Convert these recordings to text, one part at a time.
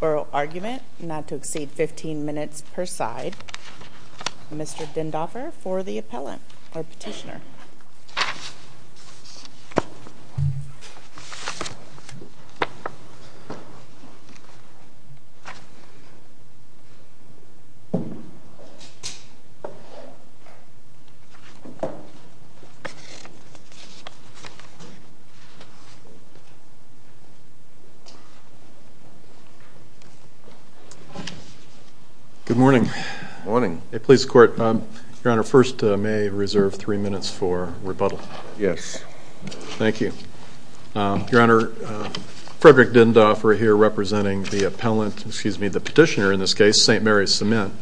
Oral Argument, not to exceed 15 minutes per side. Mr. Dindoffer for the appellant or petitioner. Good morning. Good morning. Police Court, Your Honor, first may I reserve three minutes for rebuttal? Yes. Thank you. Your Honor, Frederick Dindoffer here representing the appellant, excuse me, the petitioner in this case, St. Mary's Cement.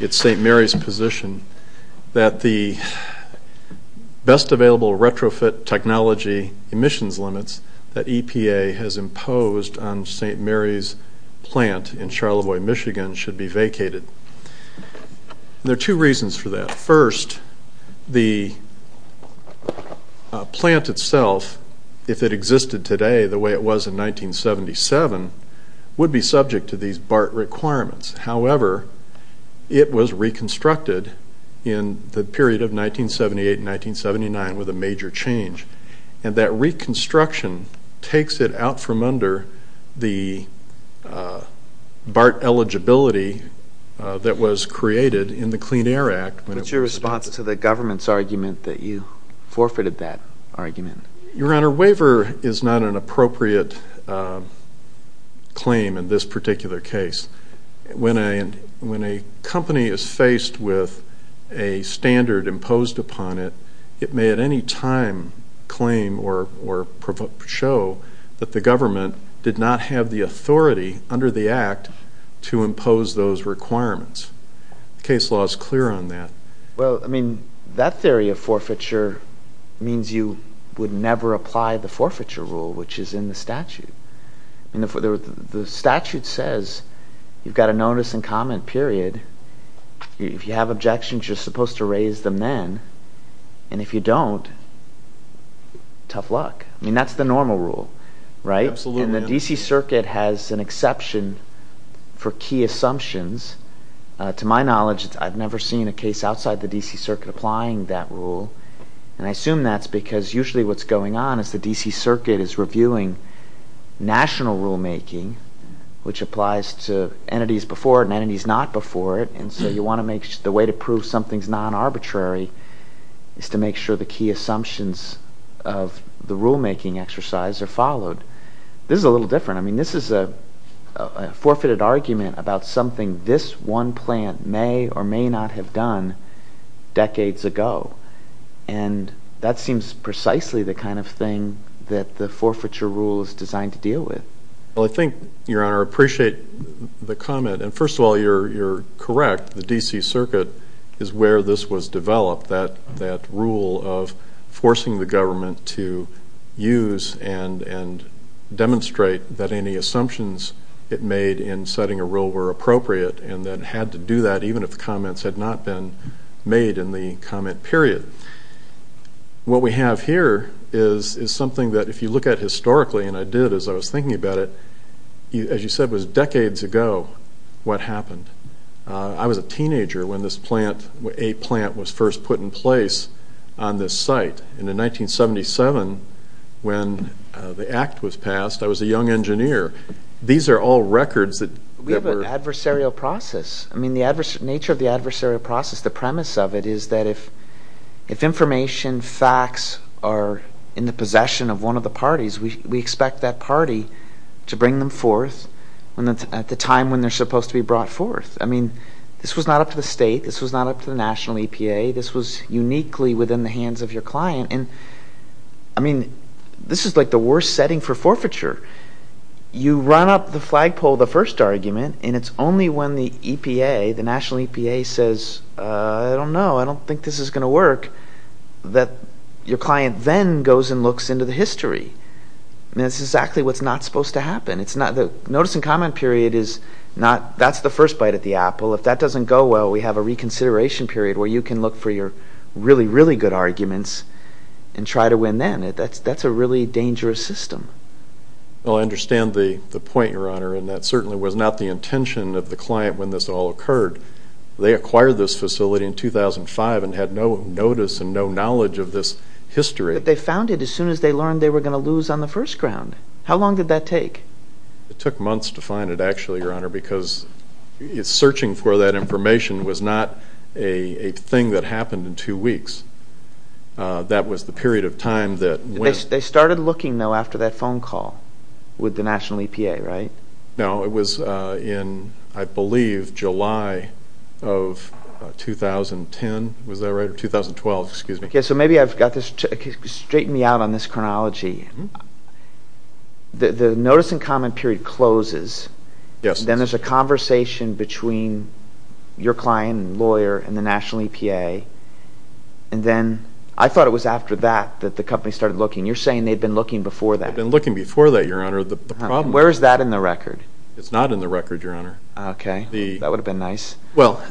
It's St. Mary's position that the best available retrofit technology emissions limits that EPA has imposed on St. Mary's plant in Charlevoix, Michigan should be vacated. There are two reasons for that. First, the plant itself, if it existed today the way it was in 1977, would be subject to these BART requirements. That was created in the Clean Air Act. What's your response to the government's argument that you forfeited that argument? Your Honor, waiver is not an appropriate claim in this particular case. When a company is faced with a standard imposed upon it, it may at any time claim or show that the government did not have the authority under the Act to impose those requirements. The case law is clear on that. Well, I mean, that theory of forfeiture means you would never apply the forfeiture rule, which is in the statute. The statute says you've got a notice and comment period. If you have objections, you're supposed to raise them then, and if you don't, tough luck. I mean, that's the normal rule, right? And the D.C. Circuit has an exception for key assumptions. To my knowledge, I've never seen a case outside the D.C. Circuit applying that rule, and I assume that's because usually what's going on is the D.C. Circuit is reviewing national rulemaking, which applies to entities before it and entities not before it. And so the way to prove something's non-arbitrary is to make sure the key assumptions of the rulemaking exercise are followed. This is a little different. I mean, this is a forfeited argument about something this one plant may or may not have done decades ago, and that seems precisely the kind of thing that the forfeiture rule is designed to deal with. Well, I think, Your Honor, I appreciate the comment. And first of all, you're correct. The D.C. Circuit is where this was developed, that rule of forcing the government to use and demonstrate that any assumptions it made in setting a rule were appropriate and that it had to do that even if the comments had not been made in the comment period. What we have here is something that if you look at historically, and I did as I was thinking about it, as you said, it was decades ago what happened. I was a teenager when this plant, a plant, was first put in place on this site. And in 1977, when the act was passed, I was a young engineer. These are all records that were... I mean, the nature of the adversarial process, the premise of it is that if information, facts are in the possession of one of the parties, we expect that party to bring them forth at the time when they're supposed to be brought forth. I mean, this was not up to the state. This was not up to the national EPA. This was uniquely within the hands of your client. And, I mean, this is like the worst setting for forfeiture. You run up the flagpole of the first argument, and it's only when the EPA, the national EPA, says, I don't know, I don't think this is going to work, that your client then goes and looks into the history. I mean, that's exactly what's not supposed to happen. The notice and comment period is not... that's the first bite at the apple. If that doesn't go well, we have a reconsideration period where you can look for your really, really good arguments and try to win then. That's a really dangerous system. Well, I understand the point, Your Honor, and that certainly was not the intention of the client when this all occurred. They acquired this facility in 2005 and had no notice and no knowledge of this history. But they found it as soon as they learned they were going to lose on the first ground. How long did that take? It took months to find it, actually, Your Honor, because searching for that information was not a thing that happened in two weeks. That was the period of time that... They started looking, though, after that phone call with the national EPA, right? No, it was in, I believe, July of 2010. Was that right? Or 2012. Excuse me. Okay, so maybe I've got this... straighten me out on this chronology. The notice and comment period closes. Yes. Then there's a conversation between your client and lawyer and the national EPA, and then... I thought it was after that that the company started looking. You're saying they'd been looking before that. They'd been looking before that, Your Honor. The problem... Where is that in the record? It's not in the record, Your Honor. Okay. That would have been nice. Well,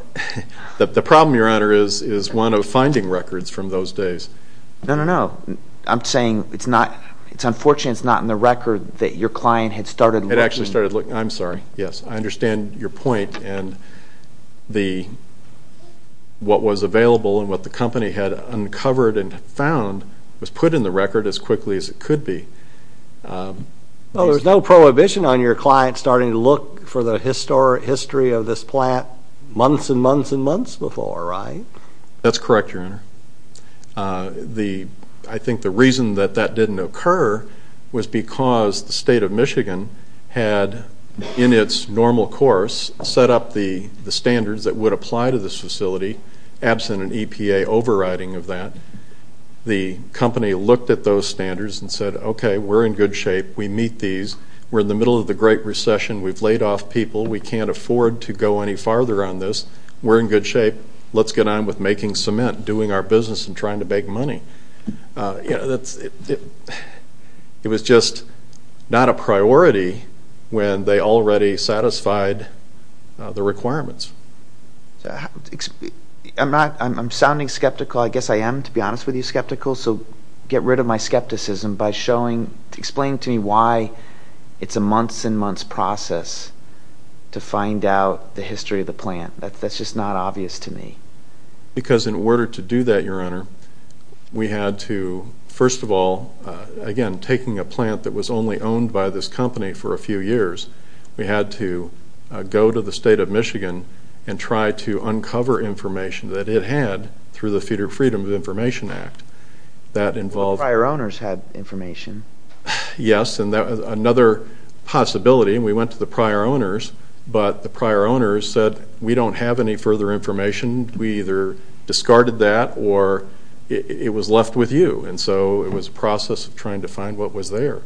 the problem, Your Honor, is one of finding records from those days. No, no, no. I'm saying it's unfortunate it's not in the record that your client had started looking. It actually started looking. I'm sorry. Yes. I understand your point, and what was available and what the company had uncovered and found was put in the record as quickly as it could be. Well, there's no prohibition on your client starting to look for the history of this plant months and months and months before, right? That's correct, Your Honor. I think the reason that that didn't occur was because the state of Michigan had, in its normal course, set up the standards that would apply to this facility, absent an EPA overriding of that. The company looked at those standards and said, okay, we're in good shape. We meet these. We're in the middle of the Great Recession. We've laid off people. We can't afford to go any farther on this. We're in good shape. Let's get on with making cement, doing our business, and trying to make money. It was just not a priority when they already satisfied the requirements. I'm sounding skeptical. I guess I am, to be honest with you, skeptical, so get rid of my skepticism by explaining to me why it's a months and months process to find out the history of the plant. That's just not obvious to me. Because in order to do that, Your Honor, we had to, first of all, again, taking a plant that was only owned by this company for a few years, we had to go to the state of Michigan and try to uncover information that it had through the Feeder Freedom of Information Act. The prior owners had information. Yes, and another possibility, and we went to the prior owners, but the prior owners said, we don't have any further information. We either discarded that or it was left with you. And so it was a process of trying to find what was there.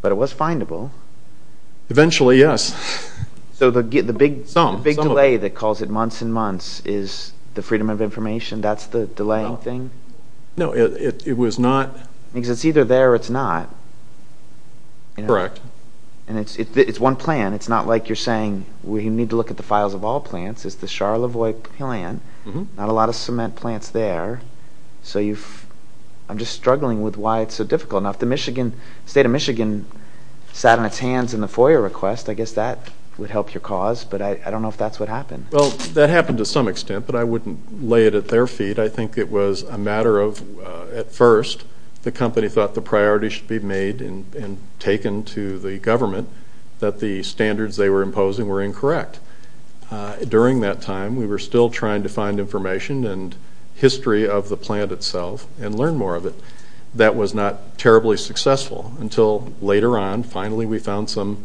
But it was findable. Eventually, yes. So the big delay that calls it months and months is the Freedom of Information, that's the delaying thing? No, it was not. Because it's either there or it's not. Correct. And it's one plan, it's not like you're saying, we need to look at the files of all plants, it's the Charlevoix plan, not a lot of cement plants there. So you've, I'm just struggling with why it's so difficult. Now if the Michigan, state of Michigan sat on its hands in the FOIA request, I guess that would help your cause, but I don't know if that's what happened. Well, that happened to some extent, but I wouldn't lay it at their feet. I think it was a matter of, at first, the company thought the priority should be made and taken to the government, that the standards they were imposing were incorrect. During that time, we were still trying to find information and history of the plant itself and learn more of it. That was not terribly successful until later on, finally, we found some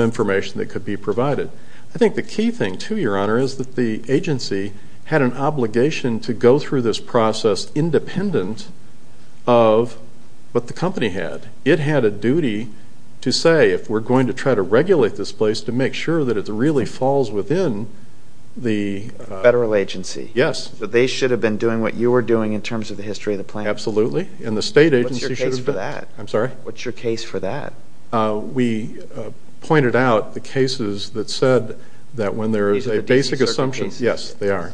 information that could be provided. I think the key thing, too, Your Honor, is that the agency had an obligation to go through this process independent of what the company had. It had a duty to say, if we're going to try to regulate this place, to make sure that it really falls within the... Federal agency. Yes. That they should have been doing what you were doing in terms of the history of the plant. Absolutely. And the state agency... What's your case for that? I'm sorry? What's your case for that? We pointed out the cases that said that when there is a basic assumption... These are the DC circuit cases? Yes, they are.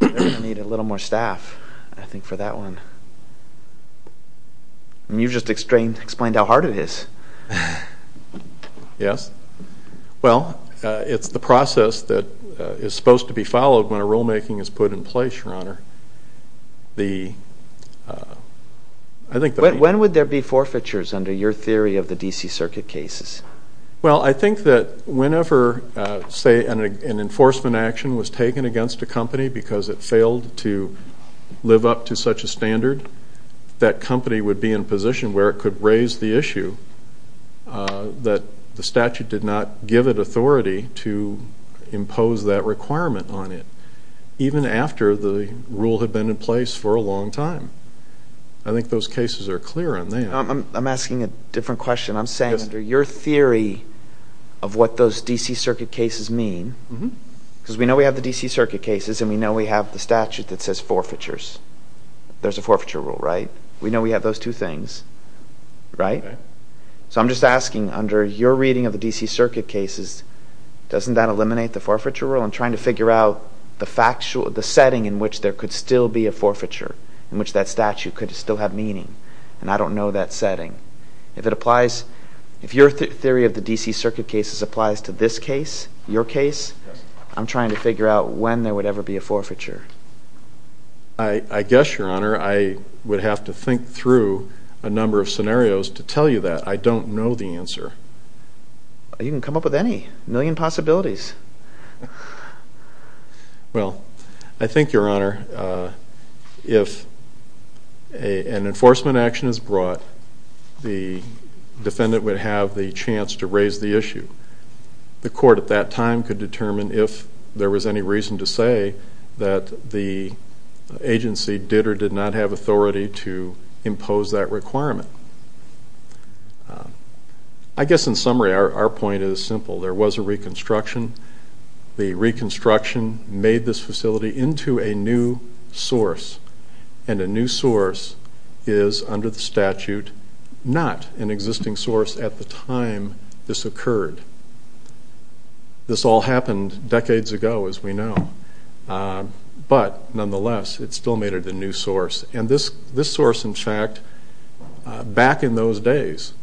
I'm going to need a little more staff, I think, for that one. You just explained how hard it is. Yes. Well... It's the process that is supposed to be followed when a rulemaking is put in place, Your Honor. The... When would there be forfeitures under your theory of the DC circuit cases? Well, I think that whenever, say, an enforcement action was taken against a company because it failed to live up to such a standard, that company would be in a position where it could raise the issue that the statute did not give it authority to impose that requirement on it, even after the rule had been in place for a long time. I think those cases are clear on that. I'm asking a different question. I'm saying under your theory of what those DC circuit cases mean, because we know we have the DC circuit cases and we know we have the statute that says forfeitures. There's a forfeiture rule, right? We know we have those two things, right? Okay. So I'm just asking, under your reading of the DC circuit cases, doesn't that eliminate the forfeiture rule? I'm trying to figure out the setting in which there could still be a forfeiture, in which that statute could still have meaning, and I don't know that setting. If it applies... If your theory of the DC circuit cases applies to this case, your case, I'm trying to figure out when there would ever be a forfeiture. I guess, Your Honor, I would have to think through a number of scenarios to tell you that. I don't know the answer. You can come up with any. A million possibilities. Well, I think, Your Honor, if an enforcement action is brought, the defendant would have the chance to raise the issue. The court at that time could determine if there was any reason to say that the agency did or did not have authority to impose that requirement. I guess, in summary, our point is simple. There was a reconstruction. The reconstruction made this facility into a new source, and a new source is, under the statute, not an existing source at the time this occurred. This all happened decades ago, as we know. But, nonetheless, it still made it a new source. And this source, in fact, back in those days,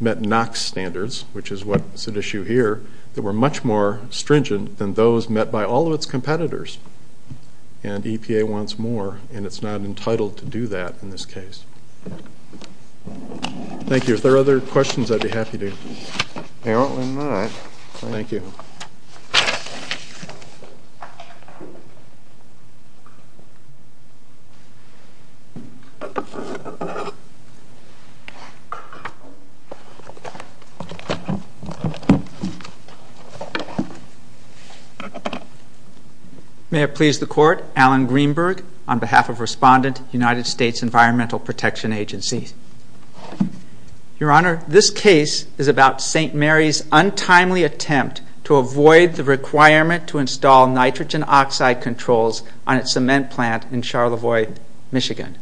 met NOx standards, which is what's at issue here, that were much more stringent than those met by all of its competitors. And EPA wants more, and it's not entitled to do that in this case. Thank you. If there are other questions, I'd be happy to. Apparently not. Thank you. May it please the Court. Alan Greenberg, on behalf of Respondent, United States Environmental Protection Agency. Your Honor, this case is about St. Mary's untimely attempt to avoid the requirement to install nitrogen oxide controls on its cement plant in Charlevoix, Michigan.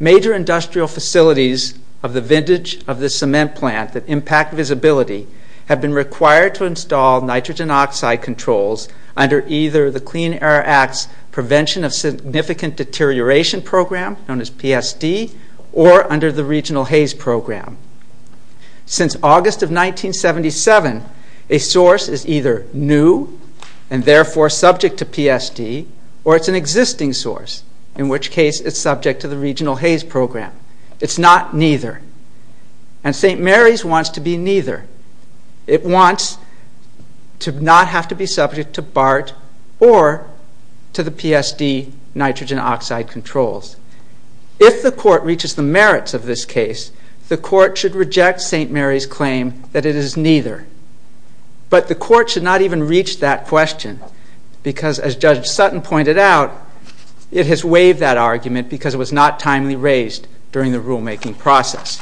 Major industrial facilities of the vintage of this cement plant that impact visibility have been required to install nitrogen oxide controls under either the Clean Air Act's Prevention of Significant Deterioration Program, known as PSD, or under the Regional Haze Program. Since August of 1977, a source is either new, and therefore subject to PSD, or it's an existing source, in which case it's subject to the Regional Haze Program. It's not neither. And St. Mary's wants to be neither. It wants to not have to be subject to BART or to the PSD nitrogen oxide controls. If the Court reaches the merits of this case, the Court should reject St. Mary's claim that it is neither. But the Court should not even reach that question because, as Judge Sutton pointed out, it has waived that argument because it was not timely raised during the rulemaking process.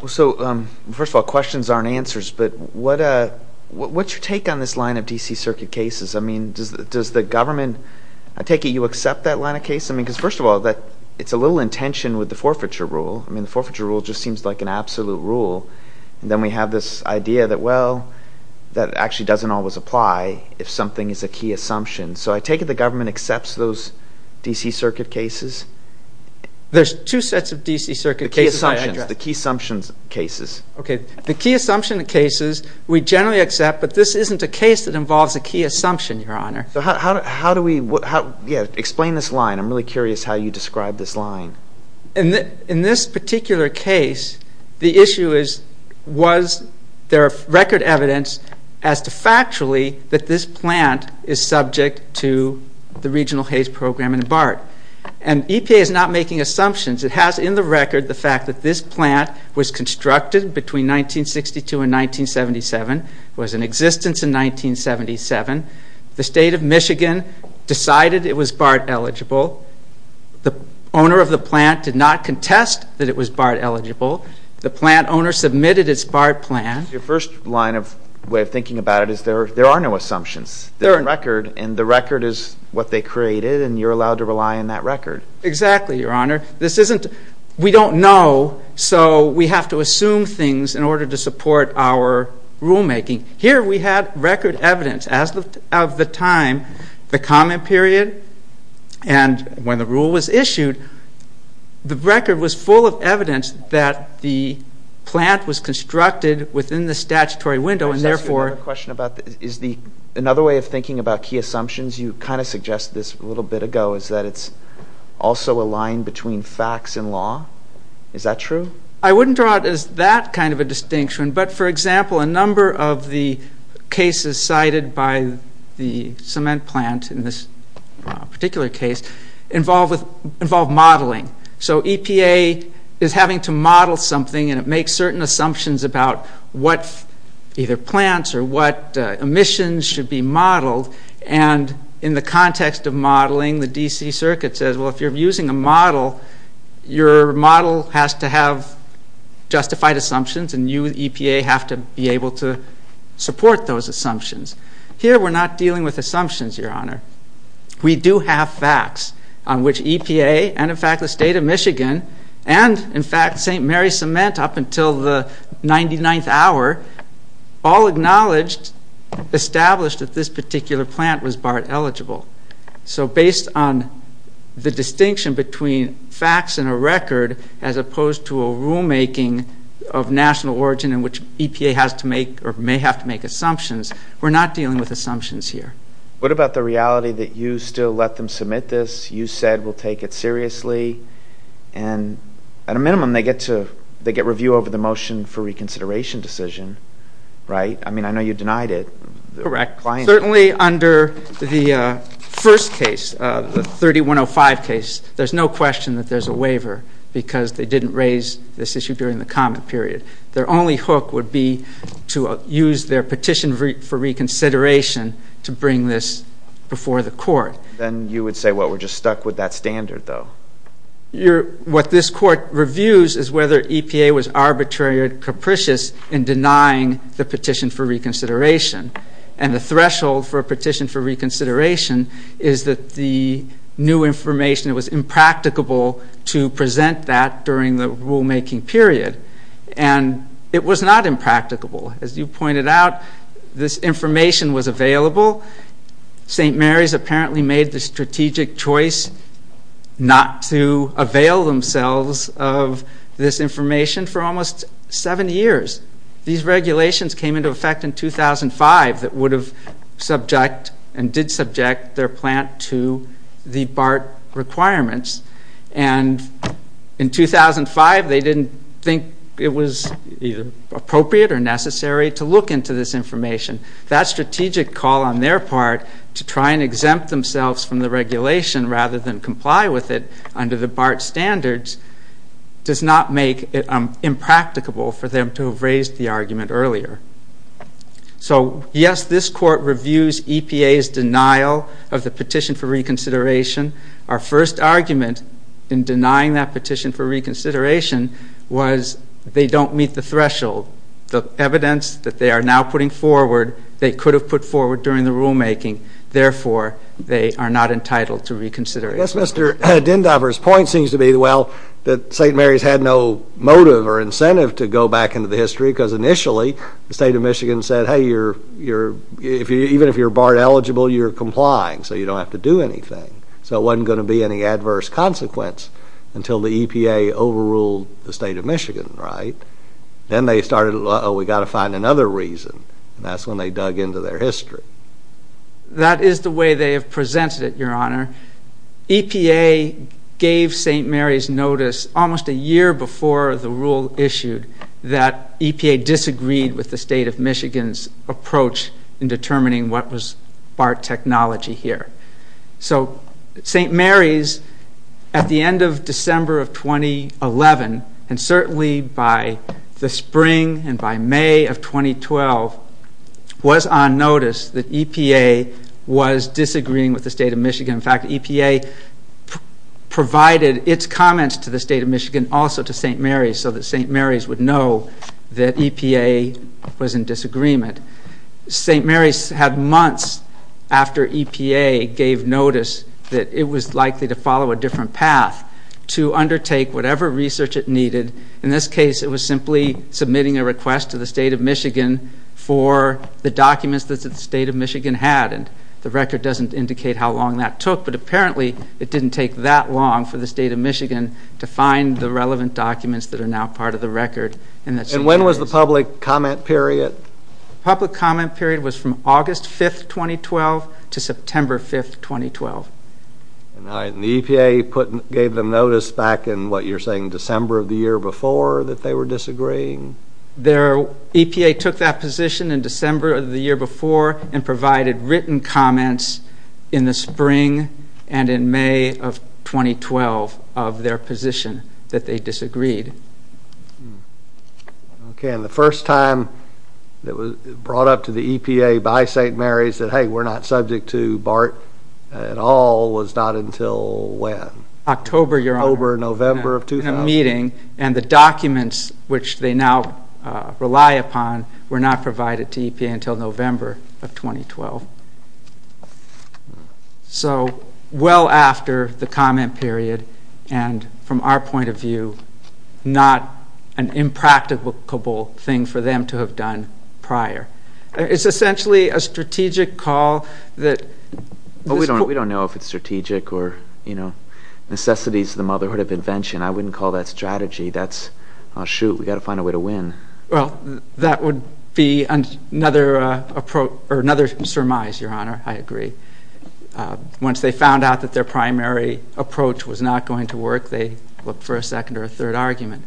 Well, so, first of all, questions aren't answers, but what's your take on this line of D.C. Circuit cases? I mean, does the government, I take it you accept that line of case? I mean, because, first of all, it's a little in tension with the forfeiture rule. I mean, the forfeiture rule just seems like an absolute rule. And then we have this idea that, well, that actually doesn't always apply if something is a key assumption. So I take it the government accepts those D.C. Circuit cases? There's two sets of D.C. Circuit cases that I addressed. The key assumptions, the key assumptions cases. Okay, the key assumption cases we generally accept, but this isn't a case that involves a key assumption, Your Honor. So how do we, yeah, explain this line. I'm really curious how you describe this line. In this particular case, the issue is, was there record evidence as to factually that this plant is subject to the regional haze program in BART? And EPA is not making assumptions. It has in the record the fact that this plant was constructed between 1962 and 1977, was in existence in 1977. The state of Michigan decided it was BART eligible. The owner of the plant did not contest that it was BART eligible. The plant owner submitted its BART plan. Your first line of way of thinking about it is there are no assumptions. They're in record, and the record is what they created, and you're allowed to rely on that record. Exactly, Your Honor. This isn't, we don't know, so we have to assume things in order to support our rulemaking. Here we have record evidence of the time, the comment period, and when the rule was issued, the record was full of evidence that the plant was constructed within the statutory window, and therefore I was asking another question about, is the, another way of thinking about key assumptions, you kind of suggested this a little bit ago, is that it's also a line between facts and law. Is that true? I wouldn't draw it as that kind of a distinction, but for example, a number of the cases cited by the cement plant in this particular case involve modeling. So EPA is having to model something, and it makes certain assumptions about what either plants or what emissions should be modeled, and in the context of modeling, the DC circuit says, well, if you're using a model, your model has to have justified assumptions, and you, EPA, have to be able to support those assumptions. Here we're not dealing with assumptions, Your Honor. We do have facts on which EPA, and in fact the state of Michigan, and in fact St. Mary's Cement up until the 99th hour, all acknowledged, established that this particular plant was BART eligible. So based on the distinction between facts and a record, as opposed to a rulemaking of national origin in which EPA has to make, or may have to make assumptions, we're not dealing with assumptions here. What about the reality that you still let them submit this, you said we'll take it seriously, and at a minimum they get to, they get review over the motion for reconsideration decision, right? I mean, I know you denied it. Correct. Certainly under the first case, the 3105 case, there's no question that there's a waiver because they didn't raise this issue during the comment period. Their only hook would be to use their petition for reconsideration to bring this before the court. Then you would say, well, we're just stuck with that standard, though. What this court reviews is whether EPA was arbitrary or capricious in denying the petition for reconsideration. And the threshold for a petition for reconsideration is that the new information, it was impracticable to present that during the rulemaking period. And it was not impracticable. As you pointed out, this information was available. St. Mary's apparently made the strategic choice not to avail themselves of this information for almost seven years. These regulations came into effect in 2005 that would have subject and did subject their plant to the BART requirements. And in 2005, they didn't think it was either appropriate or necessary to look into this information. That strategic call on their part to try and exempt themselves from the regulation rather than comply with it under the BART standards does not make it impracticable for them to have raised the argument earlier. So, yes, this court reviews EPA's denial of the petition for reconsideration. Our first argument in denying that petition for reconsideration was they don't meet the threshold. The evidence that they are now putting forward, they could have put forward during the rulemaking. Therefore, they are not entitled to reconsider. Yes, Mr. Dindover's point seems to be, well, that St. Mary's had no motive or incentive to go back into the history because initially the state of Michigan said, hey, even if you're BART eligible, you're complying, so you don't have to do anything. So it wasn't going to be any adverse consequence until the EPA overruled the state of Michigan, right? Then they started, uh-oh, we've got to find another reason, and that's when they dug into their history. That is the way they have presented it, Your Honor. EPA gave St. Mary's notice almost a year before the rule issued that EPA disagreed with the state of Michigan's approach in determining what was BART technology here. So St. Mary's, at the end of December of 2011, and certainly by the spring and by May of 2012, was on notice that EPA was disagreeing with the state of Michigan. In fact, EPA provided its comments to the state of Michigan, also to St. Mary's, so that St. Mary's would know that EPA was in disagreement. St. Mary's had months after EPA gave notice that it was likely to follow a different path to undertake whatever research it needed. In this case, it was simply submitting a request to the state of Michigan for the documents that the state of Michigan had, and the record doesn't indicate how long that took, but apparently it didn't take that long for the state of Michigan to find the relevant documents that are now part of the record. And when was the public comment period? The public comment period was from August 5, 2012 to September 5, 2012. And the EPA gave them notice back in what you're saying December of the year before that they were disagreeing? EPA took that position in December of the year before and provided written comments in the spring and in May of 2012 of their position that they disagreed. Okay, and the first time it was brought up to the EPA by St. Mary's that, hey, we're not subject to BART at all was not until when? October, Your Honor. October, November of 2012. In a meeting, and the documents which they now rely upon were not provided to EPA until November of 2012. So, well after the comment period, and from our point of view, not an impracticable thing for them to have done prior. It's essentially a strategic call that... We don't know if it's strategic or, you know, necessities of the motherhood of invention. I wouldn't call that strategy. That's, oh, shoot, we've got to find a way to win. Well, that would be another approach, or another surmise, Your Honor. I agree. Once they found out that their primary approach was not going to work, they looked for a second or a third argument.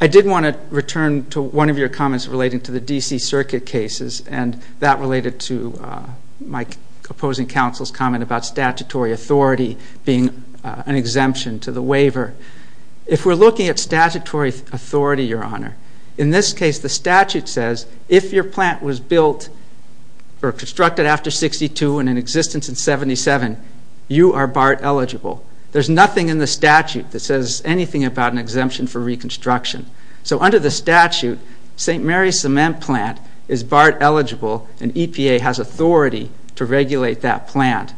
I did want to return to one of your comments relating to the D.C. Circuit cases, and that related to my opposing counsel's comment about statutory authority being an exemption to the waiver. If we're looking at statutory authority, Your Honor, in this case the statute says, if your plant was built or constructed after 62 and in existence in 77, you are BART eligible. There's nothing in the statute that says anything about an exemption for reconstruction. So under the statute, St. Mary's Cement Plant is BART eligible, and EPA has authority to regulate that plant.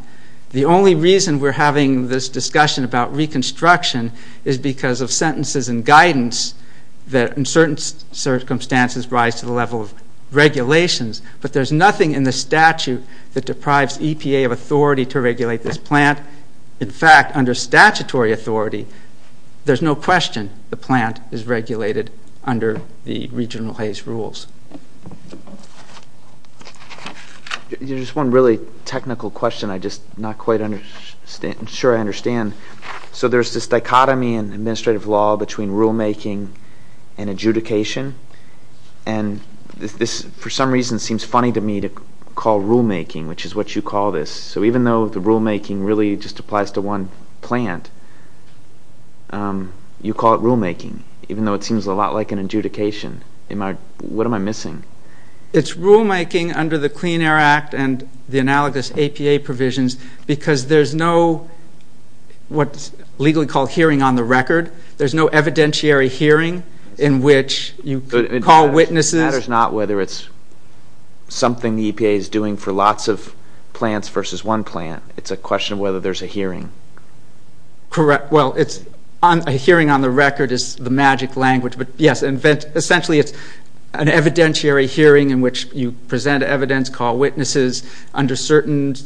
The only reason we're having this discussion about reconstruction is because of sentences and guidance that in certain circumstances rise to the level of regulations. But there's nothing in the statute that deprives EPA of authority to regulate this plant. In fact, under statutory authority, there's no question the plant is regulated under the regional Hays rules. There's one really technical question I'm not quite sure I understand. So there's this dichotomy in administrative law between rulemaking and adjudication, and this for some reason seems funny to me to call rulemaking, which is what you call this. So even though the rulemaking really just applies to one plant, you call it rulemaking, even though it seems a lot like an adjudication. What am I missing? It's rulemaking under the Clean Air Act and the analogous APA provisions because there's no what's legally called hearing on the record. There's no evidentiary hearing in which you call witnesses. It matters not whether it's something the EPA is doing for lots of plants versus one plant. It's a question of whether there's a hearing. Well, a hearing on the record is the magic language. But yes, essentially it's an evidentiary hearing in which you present evidence, call witnesses. Under certain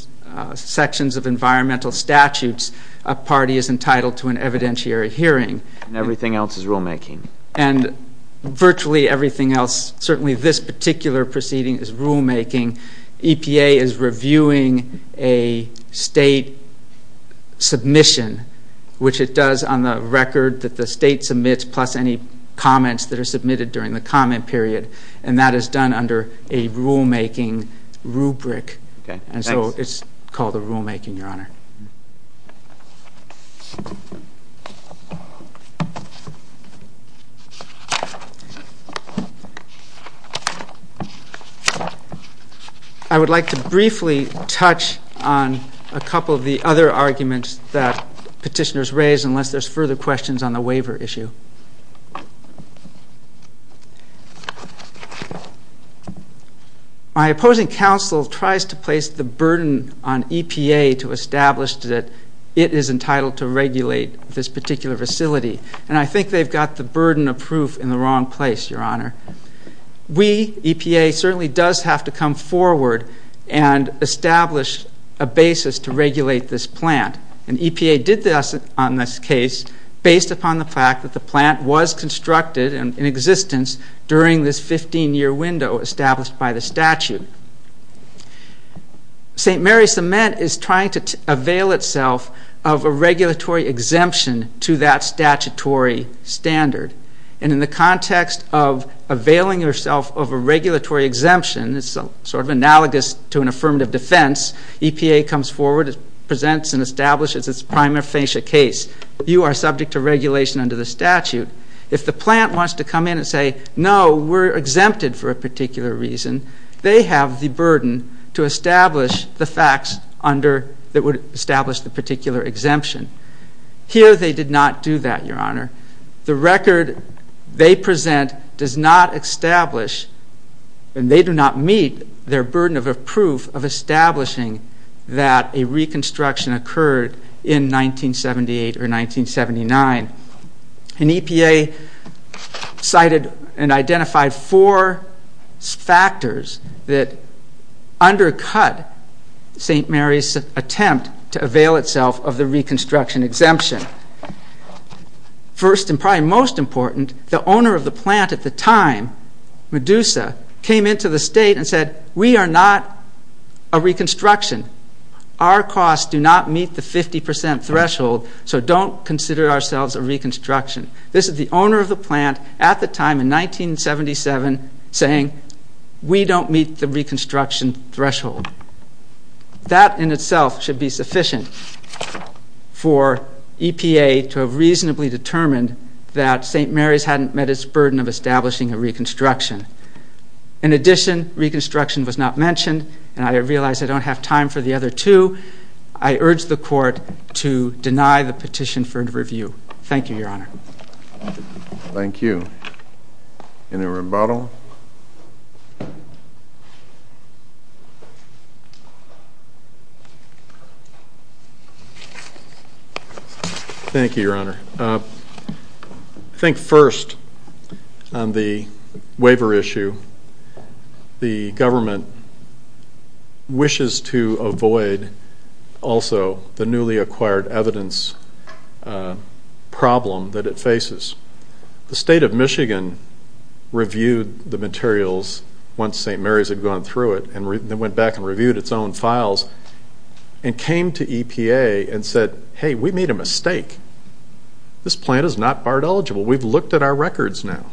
sections of environmental statutes, a party is entitled to an evidentiary hearing. And everything else is rulemaking. And virtually everything else, certainly this particular proceeding, is rulemaking. EPA is reviewing a state submission, which it does on the record that the state submits plus any comments that are submitted during the comment period. And that is done under a rulemaking rubric. And so it's called a rulemaking, Your Honor. I would like to briefly touch on a couple of the other arguments that petitioners raise unless there's further questions on the waiver issue. My opposing counsel tries to place the burden on EPA to establish that it is entitled to regulate this particular facility. And I think they've got the burden of proof in the wrong place, Your Honor. We, EPA, certainly does have to come forward and establish a basis to regulate this plant. And EPA did this on this case based upon the fact that the plant was constructed in existence during this 15-year window established by the statute. St. Mary's Cement is trying to avail itself of a regulatory exemption to that statutory standard. And in the context of availing yourself of a regulatory exemption, it's sort of analogous to an affirmative defense. EPA comes forward, presents and establishes its prima facie case. You are subject to regulation under the statute. If the plant wants to come in and say, no, we're exempted for a particular reason, they have the burden to establish the facts that would establish the particular exemption. Here they did not do that, Your Honor. The record they present does not establish, and they do not meet, their burden of proof of establishing that a reconstruction occurred in 1978 or 1979. And EPA cited and identified four factors that undercut St. Mary's attempt to avail itself of the reconstruction exemption. First and probably most important, the owner of the plant at the time, Medusa, came into the state and said, we are not a reconstruction. Our costs do not meet the 50% threshold, so don't consider ourselves a reconstruction. This is the owner of the plant at the time in 1977 saying, we don't meet the reconstruction threshold. That in itself should be sufficient for EPA to have reasonably determined that St. Mary's hadn't met its burden of establishing a reconstruction. In addition, reconstruction was not mentioned, and I realize I don't have time for the other two. I urge the court to deny the petition for review. Thank you, Your Honor. Thank you. Any rebuttal? Thank you, Your Honor. I think first on the waiver issue, the government wishes to avoid also the newly acquired evidence problem that it faces. The state of Michigan reviewed the materials once St. Mary's had gone through it and went back and reviewed its own files and came to EPA and said, hey, we made a mistake. This plant is not BART eligible. We've looked at our records now.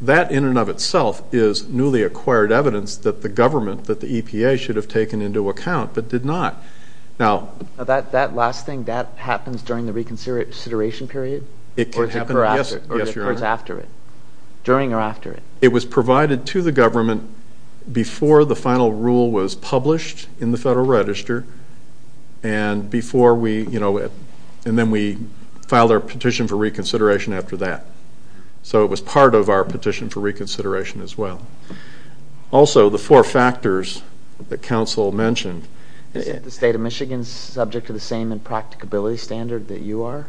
That in and of itself is newly acquired evidence that the government, that the EPA should have taken into account but did not. That last thing, that happens during the reconsideration period? It could happen, yes, Your Honor. Or it occurs after it, during or after it? It was provided to the government before the final rule was published in the Federal Register and before we, you know, and then we filed our petition for reconsideration after that. So it was part of our petition for reconsideration as well. Also, the four factors that counsel mentioned. Is the state of Michigan subject to the same impracticability standard that you are?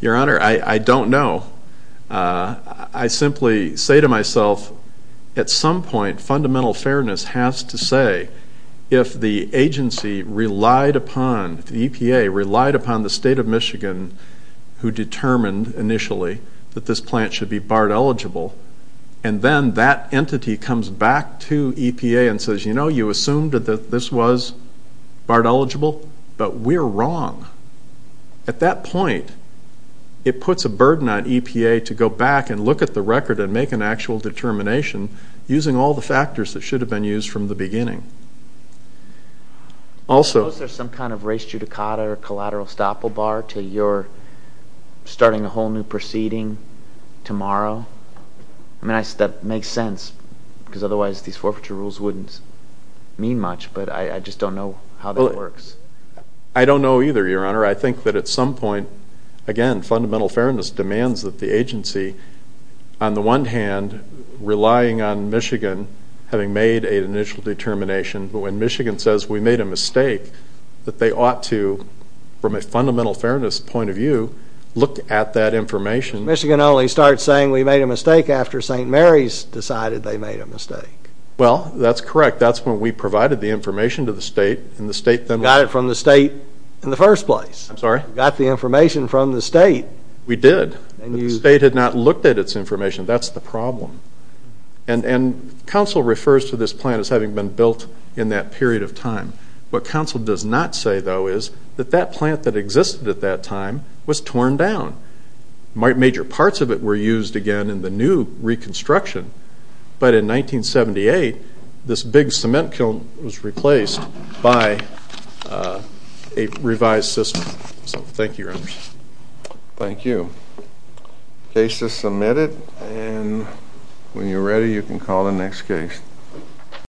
Your Honor, I don't know. I simply say to myself, at some point, fundamental fairness has to say, if the agency relied upon, if the EPA relied upon the state of Michigan who determined initially that this plant should be BART eligible, and then that entity comes back to EPA and says, you know, we concluded that this was BART eligible, but we're wrong. At that point, it puts a burden on EPA to go back and look at the record and make an actual determination using all the factors that should have been used from the beginning. Suppose there's some kind of res judicata or collateral estoppel bar till you're starting a whole new proceeding tomorrow? I mean, that makes sense, because otherwise these forfeiture rules wouldn't mean much, but I just don't know how that works. I don't know either, Your Honor. I think that at some point, again, fundamental fairness demands that the agency, on the one hand, relying on Michigan having made an initial determination, but when Michigan says we made a mistake, that they ought to, from a fundamental fairness point of view, look at that information. Michigan only starts saying we made a mistake after St. Mary's decided they made a mistake. Well, that's correct. That's when we provided the information to the state, and the state then... Got it from the state in the first place. I'm sorry? Got the information from the state. We did. The state had not looked at its information. That's the problem. And counsel refers to this plant as having been built in that period of time. What counsel does not say, though, is that that plant that existed at that time was torn down. Major parts of it were used again in the new reconstruction. But in 1978, this big cement kiln was replaced by a revised system. So thank you, Your Honor. Thank you. Case is submitted, and when you're ready, you can call the next case.